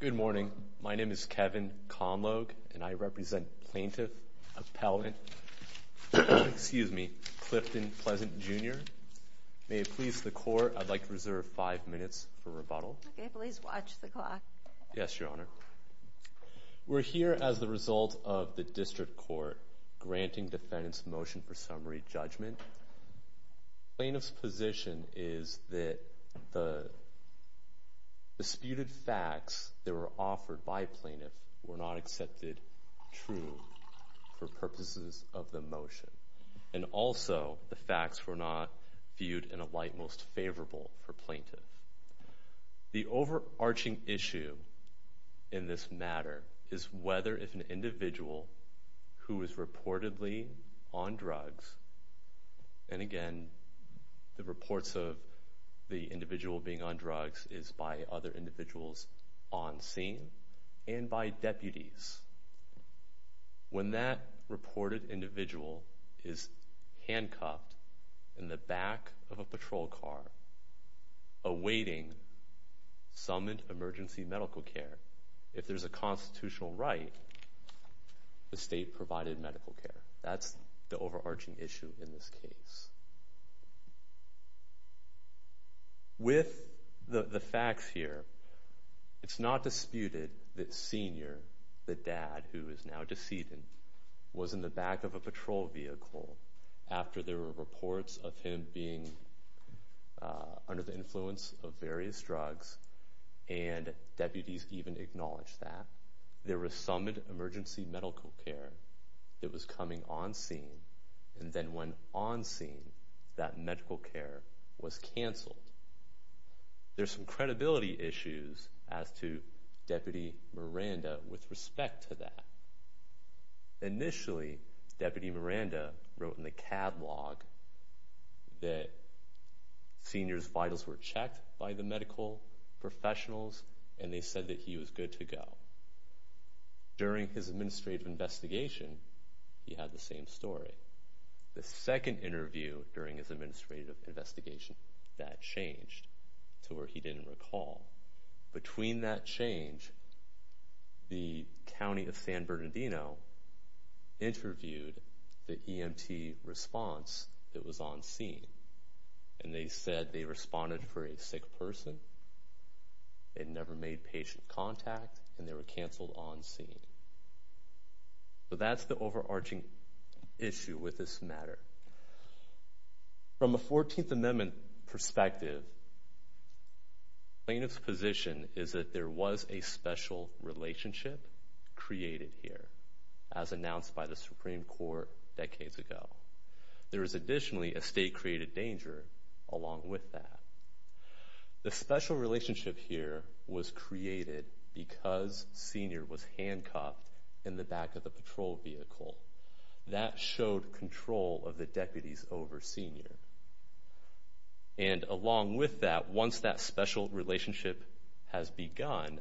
Good morning. My name is Kevin Conlogue, and I represent Plaintiff Appellant Clifton Pleasant, Jr. May it please the Court, I'd like to reserve five minutes for rebuttal. Okay, please watch the clock. Yes, Your Honor. We're here as the result of the District Court granting defendants motion for summary judgment. Plaintiff's position is that the disputed facts that were offered by plaintiffs were not accepted true for purposes of the motion, and also the facts were not viewed in a light most favorable for plaintiffs. The overarching issue in this matter is whether if an individual who is reportedly on drugs, and again, the reports of the individual being on drugs is by other individuals on scene and by deputies. When that reported individual is handcuffed in the back of a patrol car awaiting some emergency medical care, if there's a constitutional right, the state provided medical care. That's the overarching issue in this case. With the facts here, it's not disputed that Senior, the dad who is now decedent, was in the back of a patrol vehicle after there were reports of him being under the influence of various drugs, and deputies even acknowledged that. There was some emergency medical care that was coming on scene, and then when on scene, that medical care was canceled. There's some credibility issues as to Deputy Miranda with respect to that. Initially, Deputy Miranda wrote in the catalog that Senior's vitals were checked by the medical professionals, and they said that he was good to go. During his administrative investigation, he had the same story. The second interview during his administrative investigation, that changed to where he didn't recall. Between that change, the county of San Bernardino interviewed the EMT response that was on scene, and they said they responded for a sick person. They never made patient contact, and they were canceled on scene. So that's the overarching issue with this matter. From a 14th Amendment perspective, plaintiff's position is that there was a special relationship created here, as announced by the Supreme Court decades ago. There is additionally a state-created danger along with that. The special relationship here was created because Senior was handcuffed in the back of the patrol vehicle. That showed control of the deputies over Senior. And along with that, once that special relationship has begun,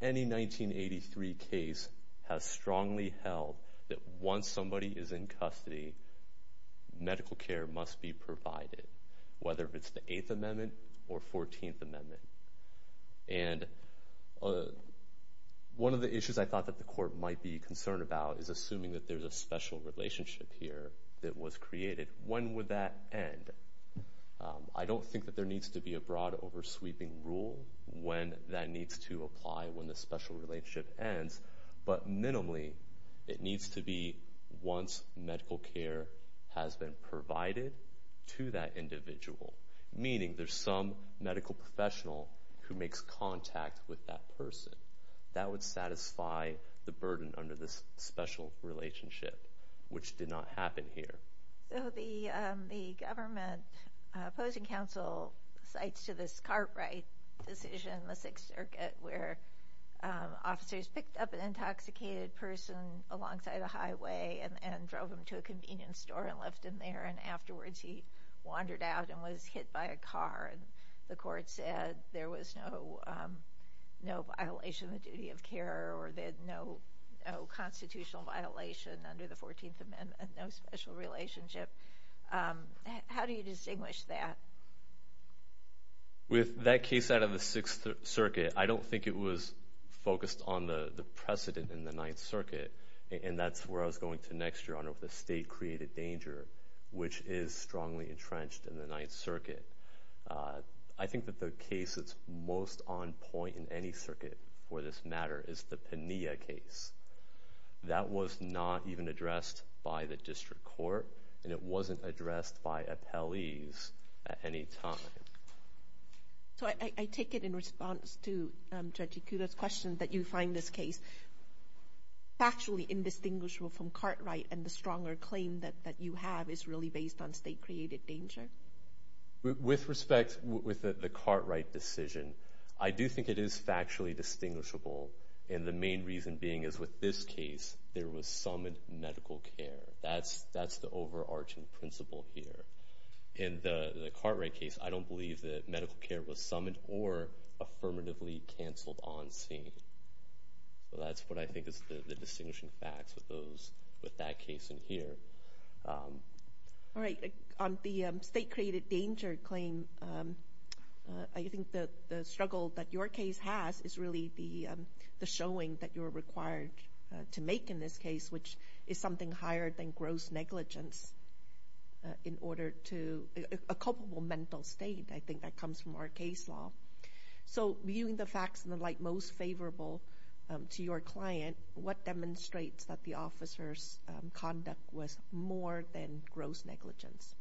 any 1983 case has strongly held that once somebody is in custody, medical care must be provided, whether it's the 8th Amendment or 14th Amendment. And one of the issues I thought that the court might be concerned about is assuming that there's a special relationship here that was created. When would that end? I don't think that there needs to be a broad, over-sweeping rule when that needs to apply when the special relationship ends. But minimally, it needs to be once medical care has been provided to that individual, meaning there's some medical professional who makes contact with that person. That would satisfy the burden under this special relationship, which did not happen here. So the government opposing counsel cites to this Cartwright decision in the Sixth Circuit where officers picked up an intoxicated person alongside a highway and drove him to a convenience store and left him there. And afterwards, he wandered out and was hit by a car. And the court said there was no violation of the duty of care or that no constitutional violation under the 14th Amendment, no special relationship. How do you distinguish that? With that case out of the Sixth Circuit, I don't think it was focused on the precedent in the Ninth Circuit. And that's where I was going to next, Your Honor, with the state-created danger, which is strongly entrenched in the Ninth Circuit. I think that the case that's most on point in any circuit for this matter is the Pena case. That was not even addressed by the district court, and it wasn't addressed by appellees at any time. So I take it in response to Judge Ikuda's question that you find this case factually indistinguishable from Cartwright, and the stronger claim that you have is really based on state-created danger? With respect with the Cartwright decision, I do think it is factually distinguishable, and the main reason being is with this case, there was summoned medical care. That's the overarching principle here. In the Cartwright case, I don't believe that medical care was summoned or affirmatively canceled on scene. So that's what I think is the distinguishing facts with that case in here. All right. On the state-created danger claim, I think the struggle that your case has is really the showing that you're required to make in this case, which is something higher than gross negligence in order to – a culpable mental state. I think that comes from our case law. So viewing the facts in the light most favorable to your client, what demonstrates that the officer's conduct was more than gross negligence?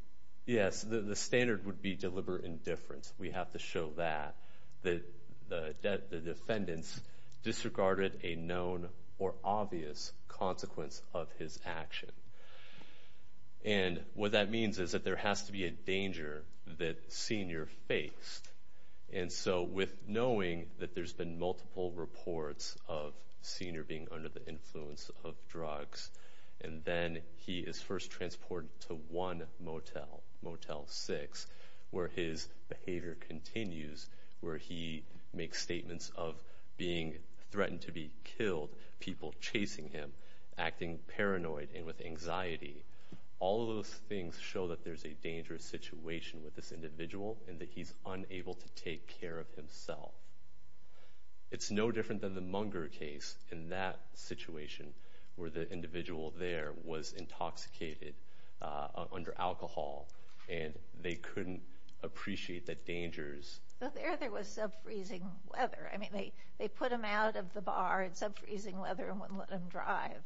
Yes, the standard would be deliberate indifference. We have to show that the defendants disregarded a known or obvious consequence of his action. And what that means is that there has to be a danger that Senior faced. And so with knowing that there's been multiple reports of Senior being under the influence of drugs, and then he is first transported to one motel, Motel 6, where his behavior continues, where he makes statements of being threatened to be killed, people chasing him, acting paranoid and with anxiety. All of those things show that there's a dangerous situation with this individual and that he's unable to take care of himself. It's no different than the Munger case in that situation where the individual there was intoxicated under alcohol, and they couldn't appreciate the dangers. So there there was sub-freezing weather. I mean, they put him out of the bar in sub-freezing weather and wouldn't let him drive.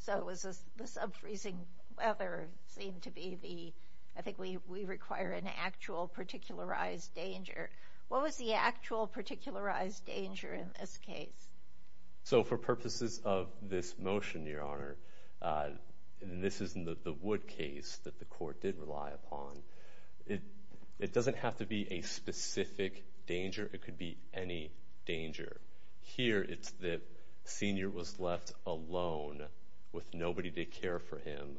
So the sub-freezing weather seemed to be the – I think we require an actual particularized danger. What was the actual particularized danger in this case? So for purposes of this motion, Your Honor, this is the Wood case that the court did rely upon. It doesn't have to be a specific danger. It could be any danger. Here it's that Senior was left alone with nobody to care for him,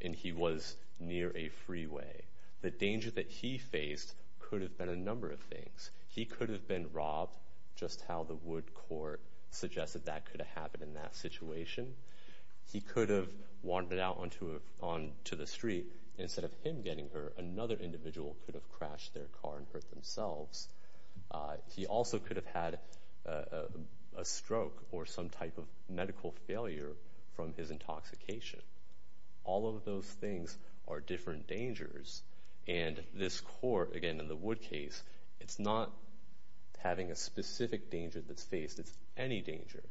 and he was near a freeway. The danger that he faced could have been a number of things. He could have been robbed, just how the Wood court suggested that could have happened in that situation. He could have wandered out onto the street. Instead of him getting hurt, another individual could have crashed their car and hurt themselves. He also could have had a stroke or some type of medical failure from his intoxication. All of those things are different dangers. And this court, again, in the Wood case, it's not having a specific danger that's faced. It's any danger.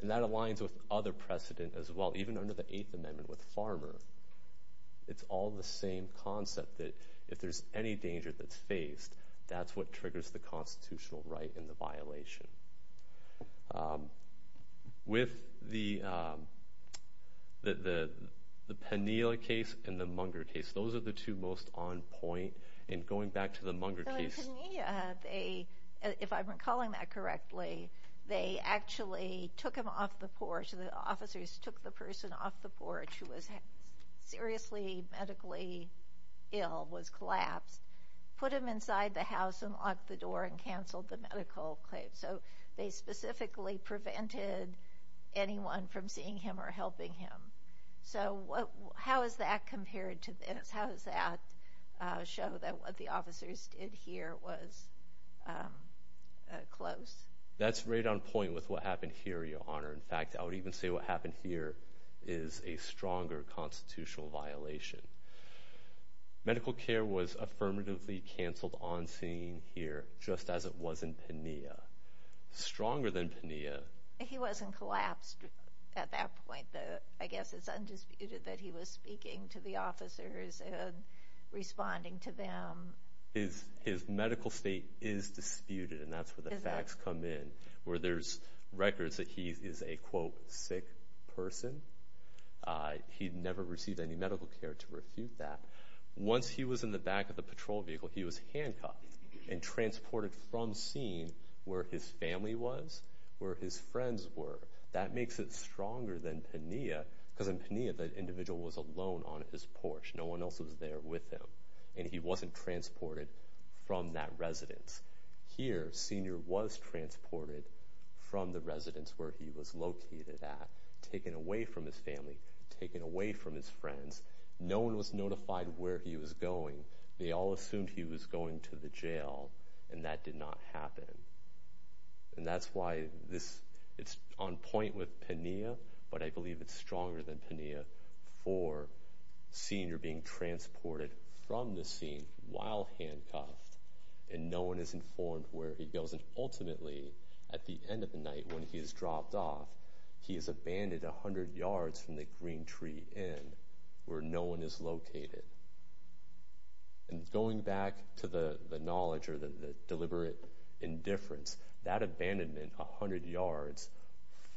And that aligns with other precedent as well, even under the Eighth Amendment with Farmer. It's all the same concept that if there's any danger that's faced, that's what triggers the constitutional right and the violation. With the Penea case and the Munger case, those are the two most on point. And going back to the Munger case. In Penea, if I'm recalling that correctly, they actually took him off the porch. The officers took the person off the porch who was seriously medically ill, was collapsed, put him inside the house and locked the door and canceled the medical claim. So they specifically prevented anyone from seeing him or helping him. So how is that compared to this? How does that show that what the officers did here was close? That's right on point with what happened here, Your Honor. In fact, I would even say what happened here is a stronger constitutional violation. Medical care was affirmatively canceled on scene here, just as it was in Penea. Stronger than Penea. He wasn't collapsed at that point. I guess it's undisputed that he was speaking to the officers and responding to them. His medical state is disputed, and that's where the facts come in, where there's records that he is a, quote, sick person. He never received any medical care to refute that. Once he was in the back of the patrol vehicle, he was handcuffed and transported from scene where his family was, where his friends were. That makes it stronger than Penea, because in Penea the individual was alone on his porch. No one else was there with him, and he wasn't transported from that residence. Here, Senior was transported from the residence where he was located at, taken away from his family, taken away from his friends. No one was notified where he was going. They all assumed he was going to the jail, and that did not happen. And that's why this is on point with Penea, but I believe it's stronger than Penea for Senior being transported from the scene while handcuffed, and no one is informed where he goes. And ultimately, at the end of the night when he is dropped off, he is abandoned 100 yards from the Green Tree Inn where no one is located. And going back to the knowledge or the deliberate indifference, that abandonment 100 yards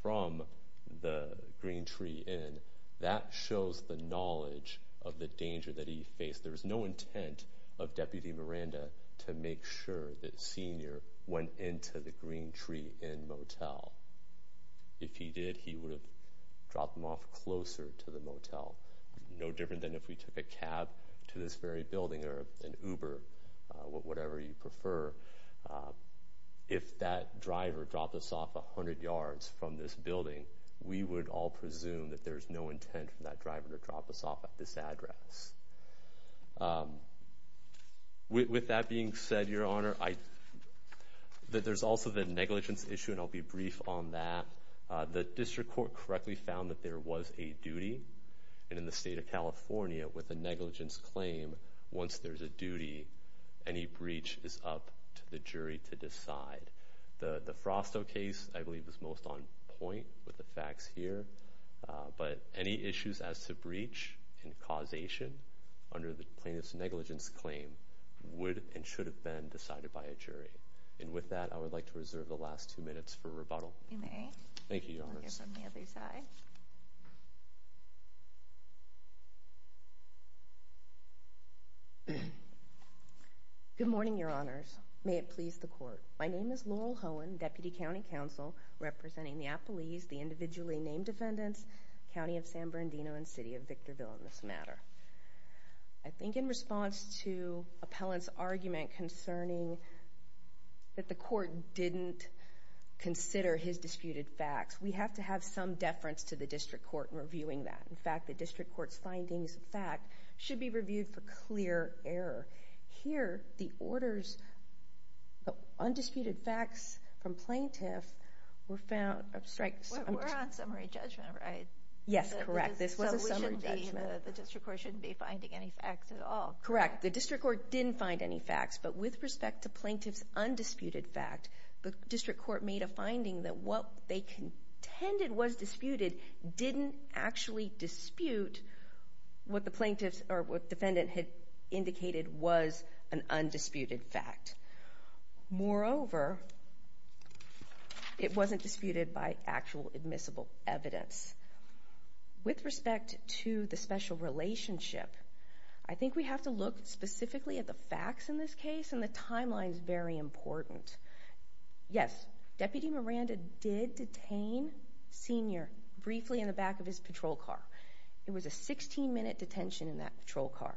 from the Green Tree Inn, that shows the knowledge of the danger that he faced. There is no intent of Deputy Miranda to make sure that Senior went into the Green Tree Inn motel. If he did, he would have dropped him off closer to the motel. No different than if we took a cab to this very building or an Uber, whatever you prefer. If that driver dropped us off 100 yards from this building, we would all presume that there's no intent for that driver to drop us off at this address. With that being said, Your Honor, there's also the negligence issue, and I'll be brief on that. The district court correctly found that there was a duty, and in the state of California with a negligence claim, once there's a duty, any breach is up to the jury to decide. The Frostow case, I believe, was most on point with the facts here. But any issues as to breach and causation under the plaintiff's negligence claim would and should have been decided by a jury. And with that, I would like to reserve the last two minutes for rebuttal. You may. Thank you, Your Honors. We'll hear from the other side. Good morning, Your Honors. May it please the Court. My name is Laurel Hohen, Deputy County Counsel, representing the Appellees, the individually named defendants, County of San Bernardino, and City of Victorville in this matter. I think in response to Appellant's argument concerning that the court didn't consider his disputed facts, we have to have some deference to the district court in reviewing that. In fact, the district court's findings of fact should be reviewed for clear error. Here, the orders of undisputed facts from plaintiff were found. We're on summary judgment, right? Yes, correct. This was a summary judgment. So the district court shouldn't be finding any facts at all? Correct. The district court didn't find any facts. But with respect to plaintiff's undisputed fact, the district court made a finding that what they contended was disputed didn't actually dispute what the defendant had indicated was an undisputed fact. Moreover, it wasn't disputed by actual admissible evidence. With respect to the special relationship, I think we have to look specifically at the facts in this case, and the timeline is very important. Yes, Deputy Miranda did detain Senior briefly in the back of his patrol car. It was a 16-minute detention in that patrol car.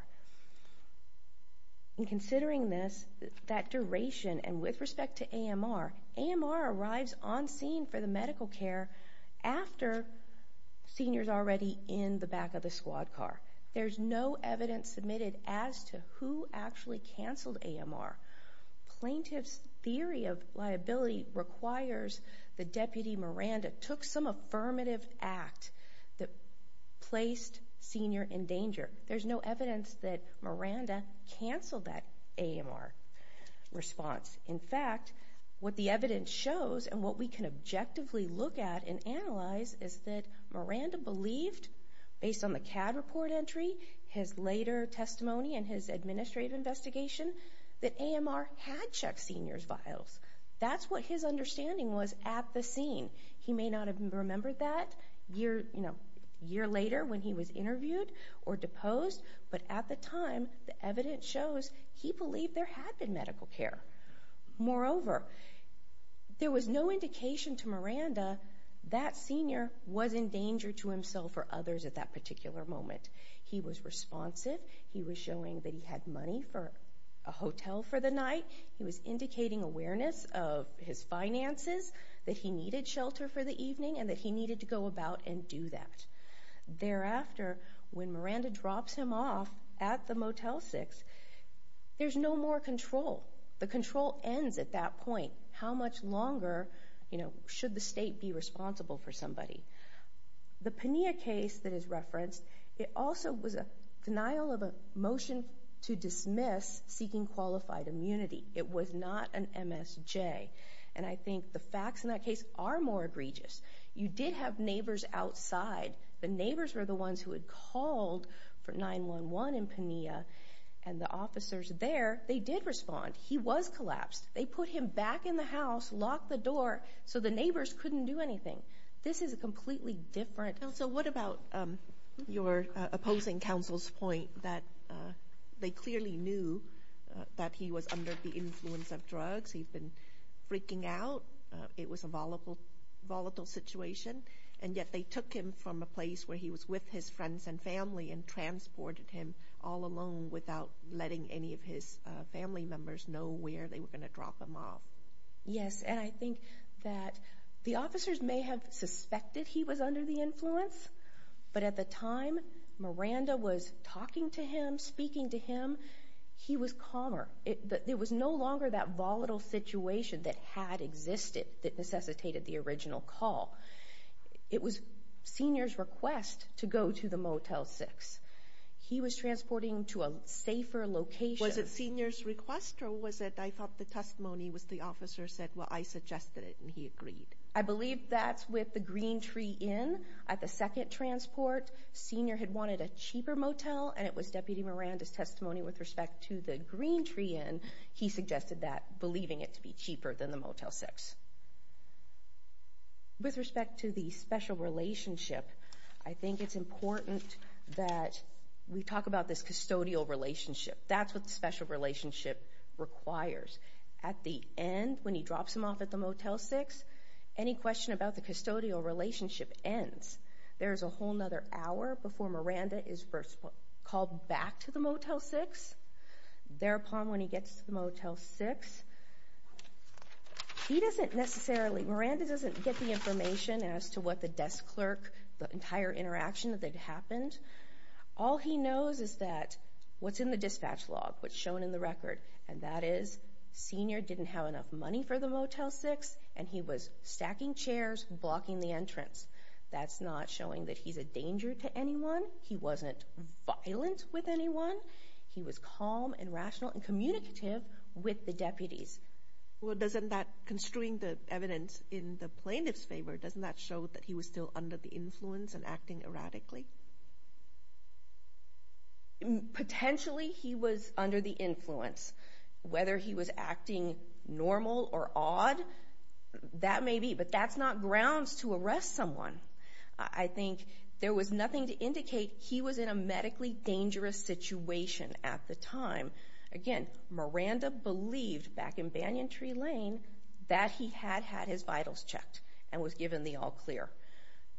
And considering this, that duration, and with respect to AMR, AMR arrives on scene for the medical care after Senior's already in the back of the squad car. There's no evidence submitted as to who actually canceled AMR. Plaintiff's theory of liability requires that Deputy Miranda took some affirmative act that placed Senior in danger. There's no evidence that Miranda canceled that AMR response. In fact, what the evidence shows, and what we can objectively look at and analyze, is that Miranda believed, based on the CAD report entry, his later testimony, and his administrative investigation, that AMR had checked Senior's vials. That's what his understanding was at the scene. He may not have remembered that a year later when he was interviewed or deposed, but at the time, the evidence shows he believed there had been medical care. Moreover, there was no indication to Miranda that Senior was in danger to himself or others at that particular moment. He was responsive. He was showing that he had money for a hotel for the night. He was indicating awareness of his finances, that he needed shelter for the evening, and that he needed to go about and do that. Thereafter, when Miranda drops him off at the Motel 6, there's no more control. The control ends at that point. How much longer should the state be responsible for somebody? The Pena case that is referenced, it also was a denial of a motion to dismiss seeking qualified immunity. It was not an MSJ. And I think the facts in that case are more egregious. You did have neighbors outside. The neighbors were the ones who had called for 911 in Pena, and the officers there, they did respond. He was collapsed. They put him back in the house, locked the door, so the neighbors couldn't do anything. This is completely different. So what about your opposing counsel's point that they clearly knew that he was under the influence of drugs, he'd been freaking out, it was a volatile situation, and yet they took him from a place where he was with his friends and family and transported him all alone without letting any of his family members know where they were going to drop him off? Yes, and I think that the officers may have suspected he was under the influence, but at the time Miranda was talking to him, speaking to him, he was calmer. It was no longer that volatile situation that had existed that necessitated the original call. It was seniors' request to go to the Motel 6. He was transporting him to a safer location. Was it seniors' request, or was it I thought the testimony was the officer said, well, I suggested it, and he agreed? I believe that's with the Green Tree Inn. At the second transport, senior had wanted a cheaper motel, and it was Deputy Miranda's testimony with respect to the Green Tree Inn. He suggested that, believing it to be cheaper than the Motel 6. With respect to the special relationship, I think it's important that we talk about this custodial relationship. That's what the special relationship requires. At the end, when he drops him off at the Motel 6, any question about the custodial relationship ends. There's a whole other hour before Miranda is called back to the Motel 6. Thereupon, when he gets to the Motel 6, he doesn't necessarily, Miranda doesn't get the information as to what the desk clerk, the entire interaction that had happened. All he knows is that what's in the dispatch log, what's shown in the record, and that is senior didn't have enough money for the Motel 6, and he was stacking chairs, blocking the entrance. That's not showing that he's a danger to anyone. He wasn't violent with anyone. He was calm and rational and communicative with the deputies. Well, doesn't that constrain the evidence in the plaintiff's favor? Doesn't that show that he was still under the influence and acting erratically? Potentially, he was under the influence. Whether he was acting normal or odd, that may be, but that's not grounds to arrest someone. I think there was nothing to indicate he was in a medically dangerous situation at the time. Again, Miranda believed back in Banyan Tree Lane that he had had his vitals checked and was given the all-clear.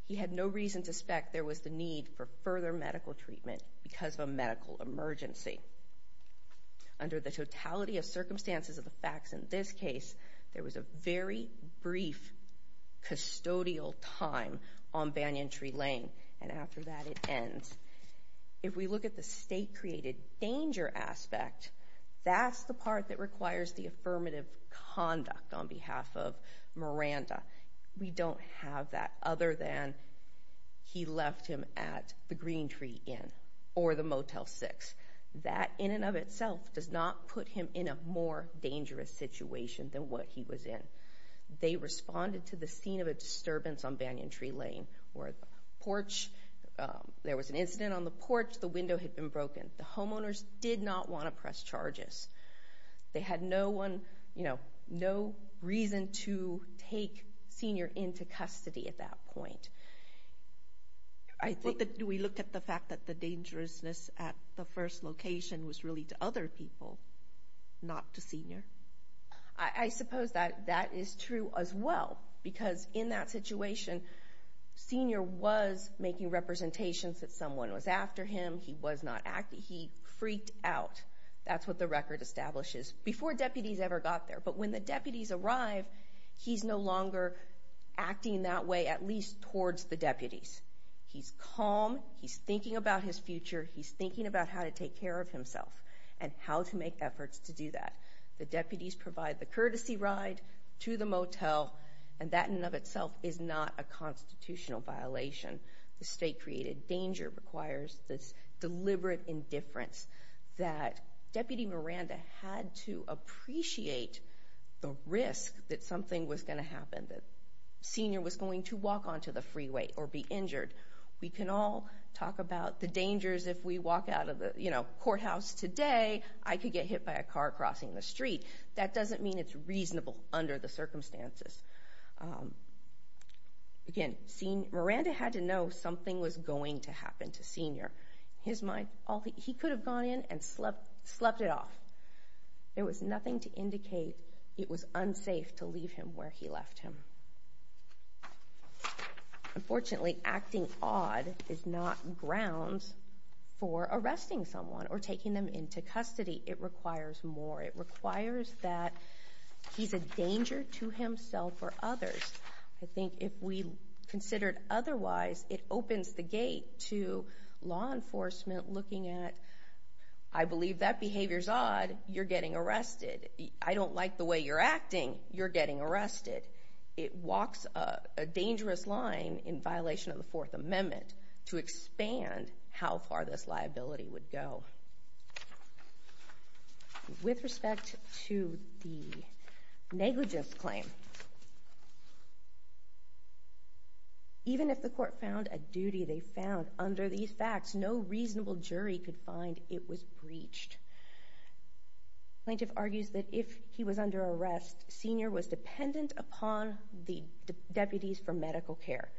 He had no reason to suspect there was the need for further medical treatment because of a medical emergency. Under the totality of circumstances of the facts in this case, there was a very brief custodial time on Banyan Tree Lane, and after that it ends. If we look at the state-created danger aspect, that's the part that requires the affirmative conduct on behalf of Miranda. We don't have that other than he left him at the Green Tree Inn or the Motel 6. That in and of itself does not put him in a more dangerous situation than what he was in. They responded to the scene of a disturbance on Banyan Tree Lane where there was an incident on the porch, the window had been broken. The homeowners did not want to press charges. They had no reason to take Senior into custody at that point. Do we look at the fact that the dangerousness at the first location I suppose that that is true as well because in that situation, Senior was making representations that someone was after him. He was not acting. He freaked out. That's what the record establishes before deputies ever got there. But when the deputies arrive, he's no longer acting that way, at least towards the deputies. He's calm. He's thinking about his future. He's thinking about how to take care of himself and how to make efforts to do that. The deputies provide the courtesy ride to the motel, and that in and of itself is not a constitutional violation. The state-created danger requires this deliberate indifference that Deputy Miranda had to appreciate the risk that something was going to happen, that Senior was going to walk onto the freeway or be injured. We can all talk about the dangers if we walk out of the courthouse today, I could get hit by a car crossing the street. That doesn't mean it's reasonable under the circumstances. Again, Miranda had to know something was going to happen to Senior. He could have gone in and slept it off. There was nothing to indicate it was unsafe to leave him where he left him. Unfortunately, acting odd is not grounds for arresting someone or taking them into custody. It requires more. It requires that he's a danger to himself or others. I think if we considered otherwise, it opens the gate to law enforcement looking at, I believe that behavior's odd, you're getting arrested. I don't like the way you're acting, you're getting arrested. It walks a dangerous line in violation of the Fourth Amendment to expand how far this liability would go. With respect to the negligence claim, even if the court found a duty they found under these facts, no reasonable jury could find it was breached. Plaintiff argues that if he was under arrest, Senior was dependent upon the deputies for medical care.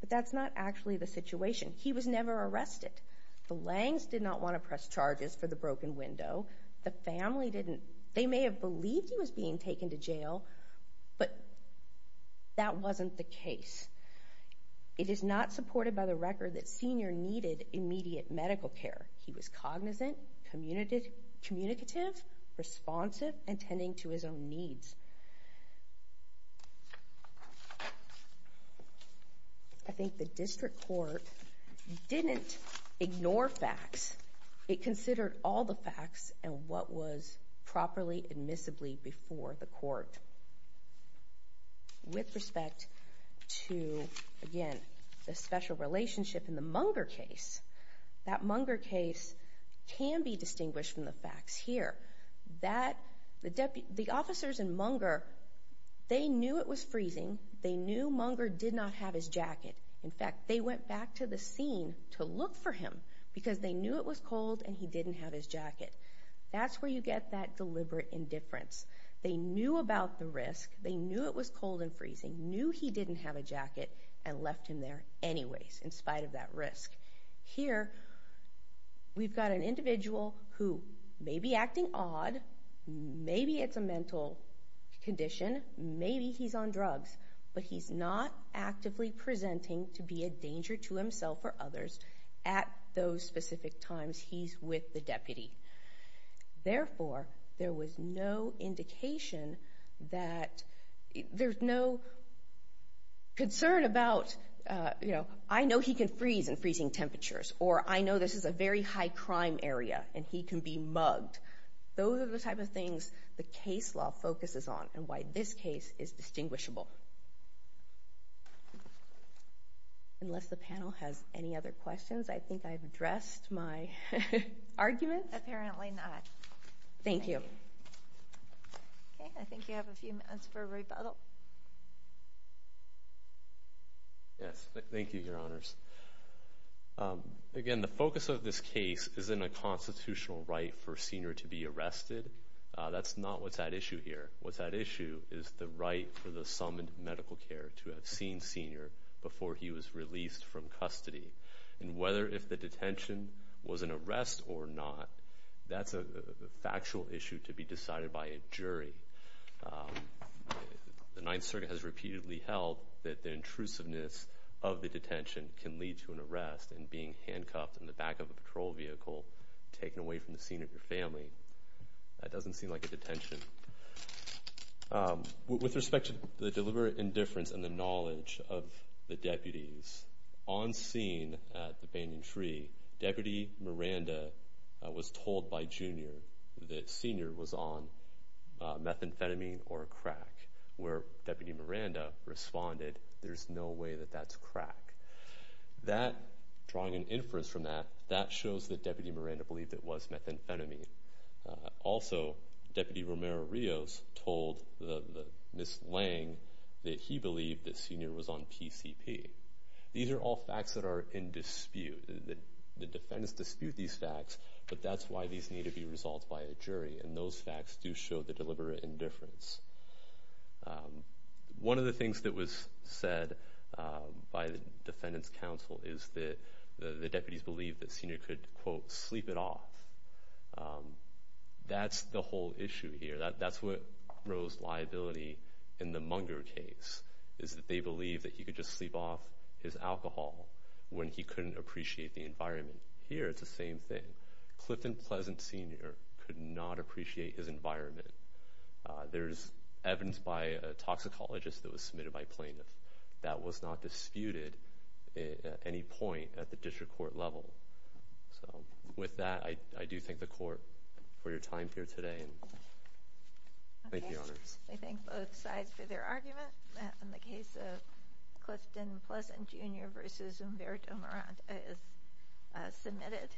But that's not actually the situation. He was never arrested. The Langs did not want to press charges for the broken window. The family didn't. They may have believed he was being taken to jail, but that wasn't the case. It is not supported by the record that Senior needed immediate medical care. He was cognizant, communicative, responsive, and tending to his own needs. I think the district court didn't ignore facts. It considered all the facts and what was properly admissibly before the court. With respect to, again, the special relationship in the Munger case, that Munger case can be distinguished from the facts here. The officers in Munger, they knew it was freezing. They knew Munger did not have his jacket. In fact, they went back to the scene to look for him because they knew it was cold and he didn't have his jacket. That's where you get that deliberate indifference. They knew about the risk. and left him there anyways in spite of that risk. Here, we've got an individual who may be acting odd. Maybe it's a mental condition. Maybe he's on drugs, but he's not actively presenting to be a danger to himself or others. At those specific times, he's with the deputy. Therefore, there was no indication that there's no concern about, you know, I know he can freeze in freezing temperatures or I know this is a very high crime area and he can be mugged. Those are the type of things the case law focuses on and why this case is distinguishable. Unless the panel has any other questions, I think I've addressed my arguments. Apparently not. Thank you. Okay, I think you have a few minutes for rebuttal. Yes, thank you, Your Honors. Again, the focus of this case is in a constitutional right for a senior to be arrested. That's not what's at issue here. What's at issue is the right for the summoned medical care to have seen senior before he was released from custody. And whether if the detention was an arrest or not, that's a factual issue to be decided by a jury. The Ninth Circuit has repeatedly held that the intrusiveness of the detention can lead to an arrest and being handcuffed in the back of a patrol vehicle, taken away from the senior family. That doesn't seem like a detention. With respect to the deliberate indifference and the knowledge of the deputies, on scene at the Banyan Tree, Deputy Miranda was told by Junior that Senior was on methamphetamine or crack. Where Deputy Miranda responded, there's no way that that's crack. Drawing an inference from that, that shows that Deputy Miranda believed it was methamphetamine. Also, Deputy Romero-Rios told Ms. Lange that he believed that Senior was on PCP. These are all facts that are in dispute. The defendants dispute these facts, but that's why these need to be resolved by a jury, and those facts do show the deliberate indifference. One of the things that was said by the defendants' counsel is that the deputies believed that Senior could, quote, sleep it off. That's the whole issue here. That's what rose liability in the Munger case, is that they believed that he could just sleep off his alcohol when he couldn't appreciate the environment. Here, it's the same thing. Clifton Pleasant Senior could not appreciate his environment. There's evidence by a toxicologist that was submitted by plaintiffs that was not disputed at any point at the district court level. With that, I do thank the court for your time here today. Thank you, Your Honors. I thank both sides for their argument. The case of Clifton Pleasant Junior v. Umberto Morant is submitted.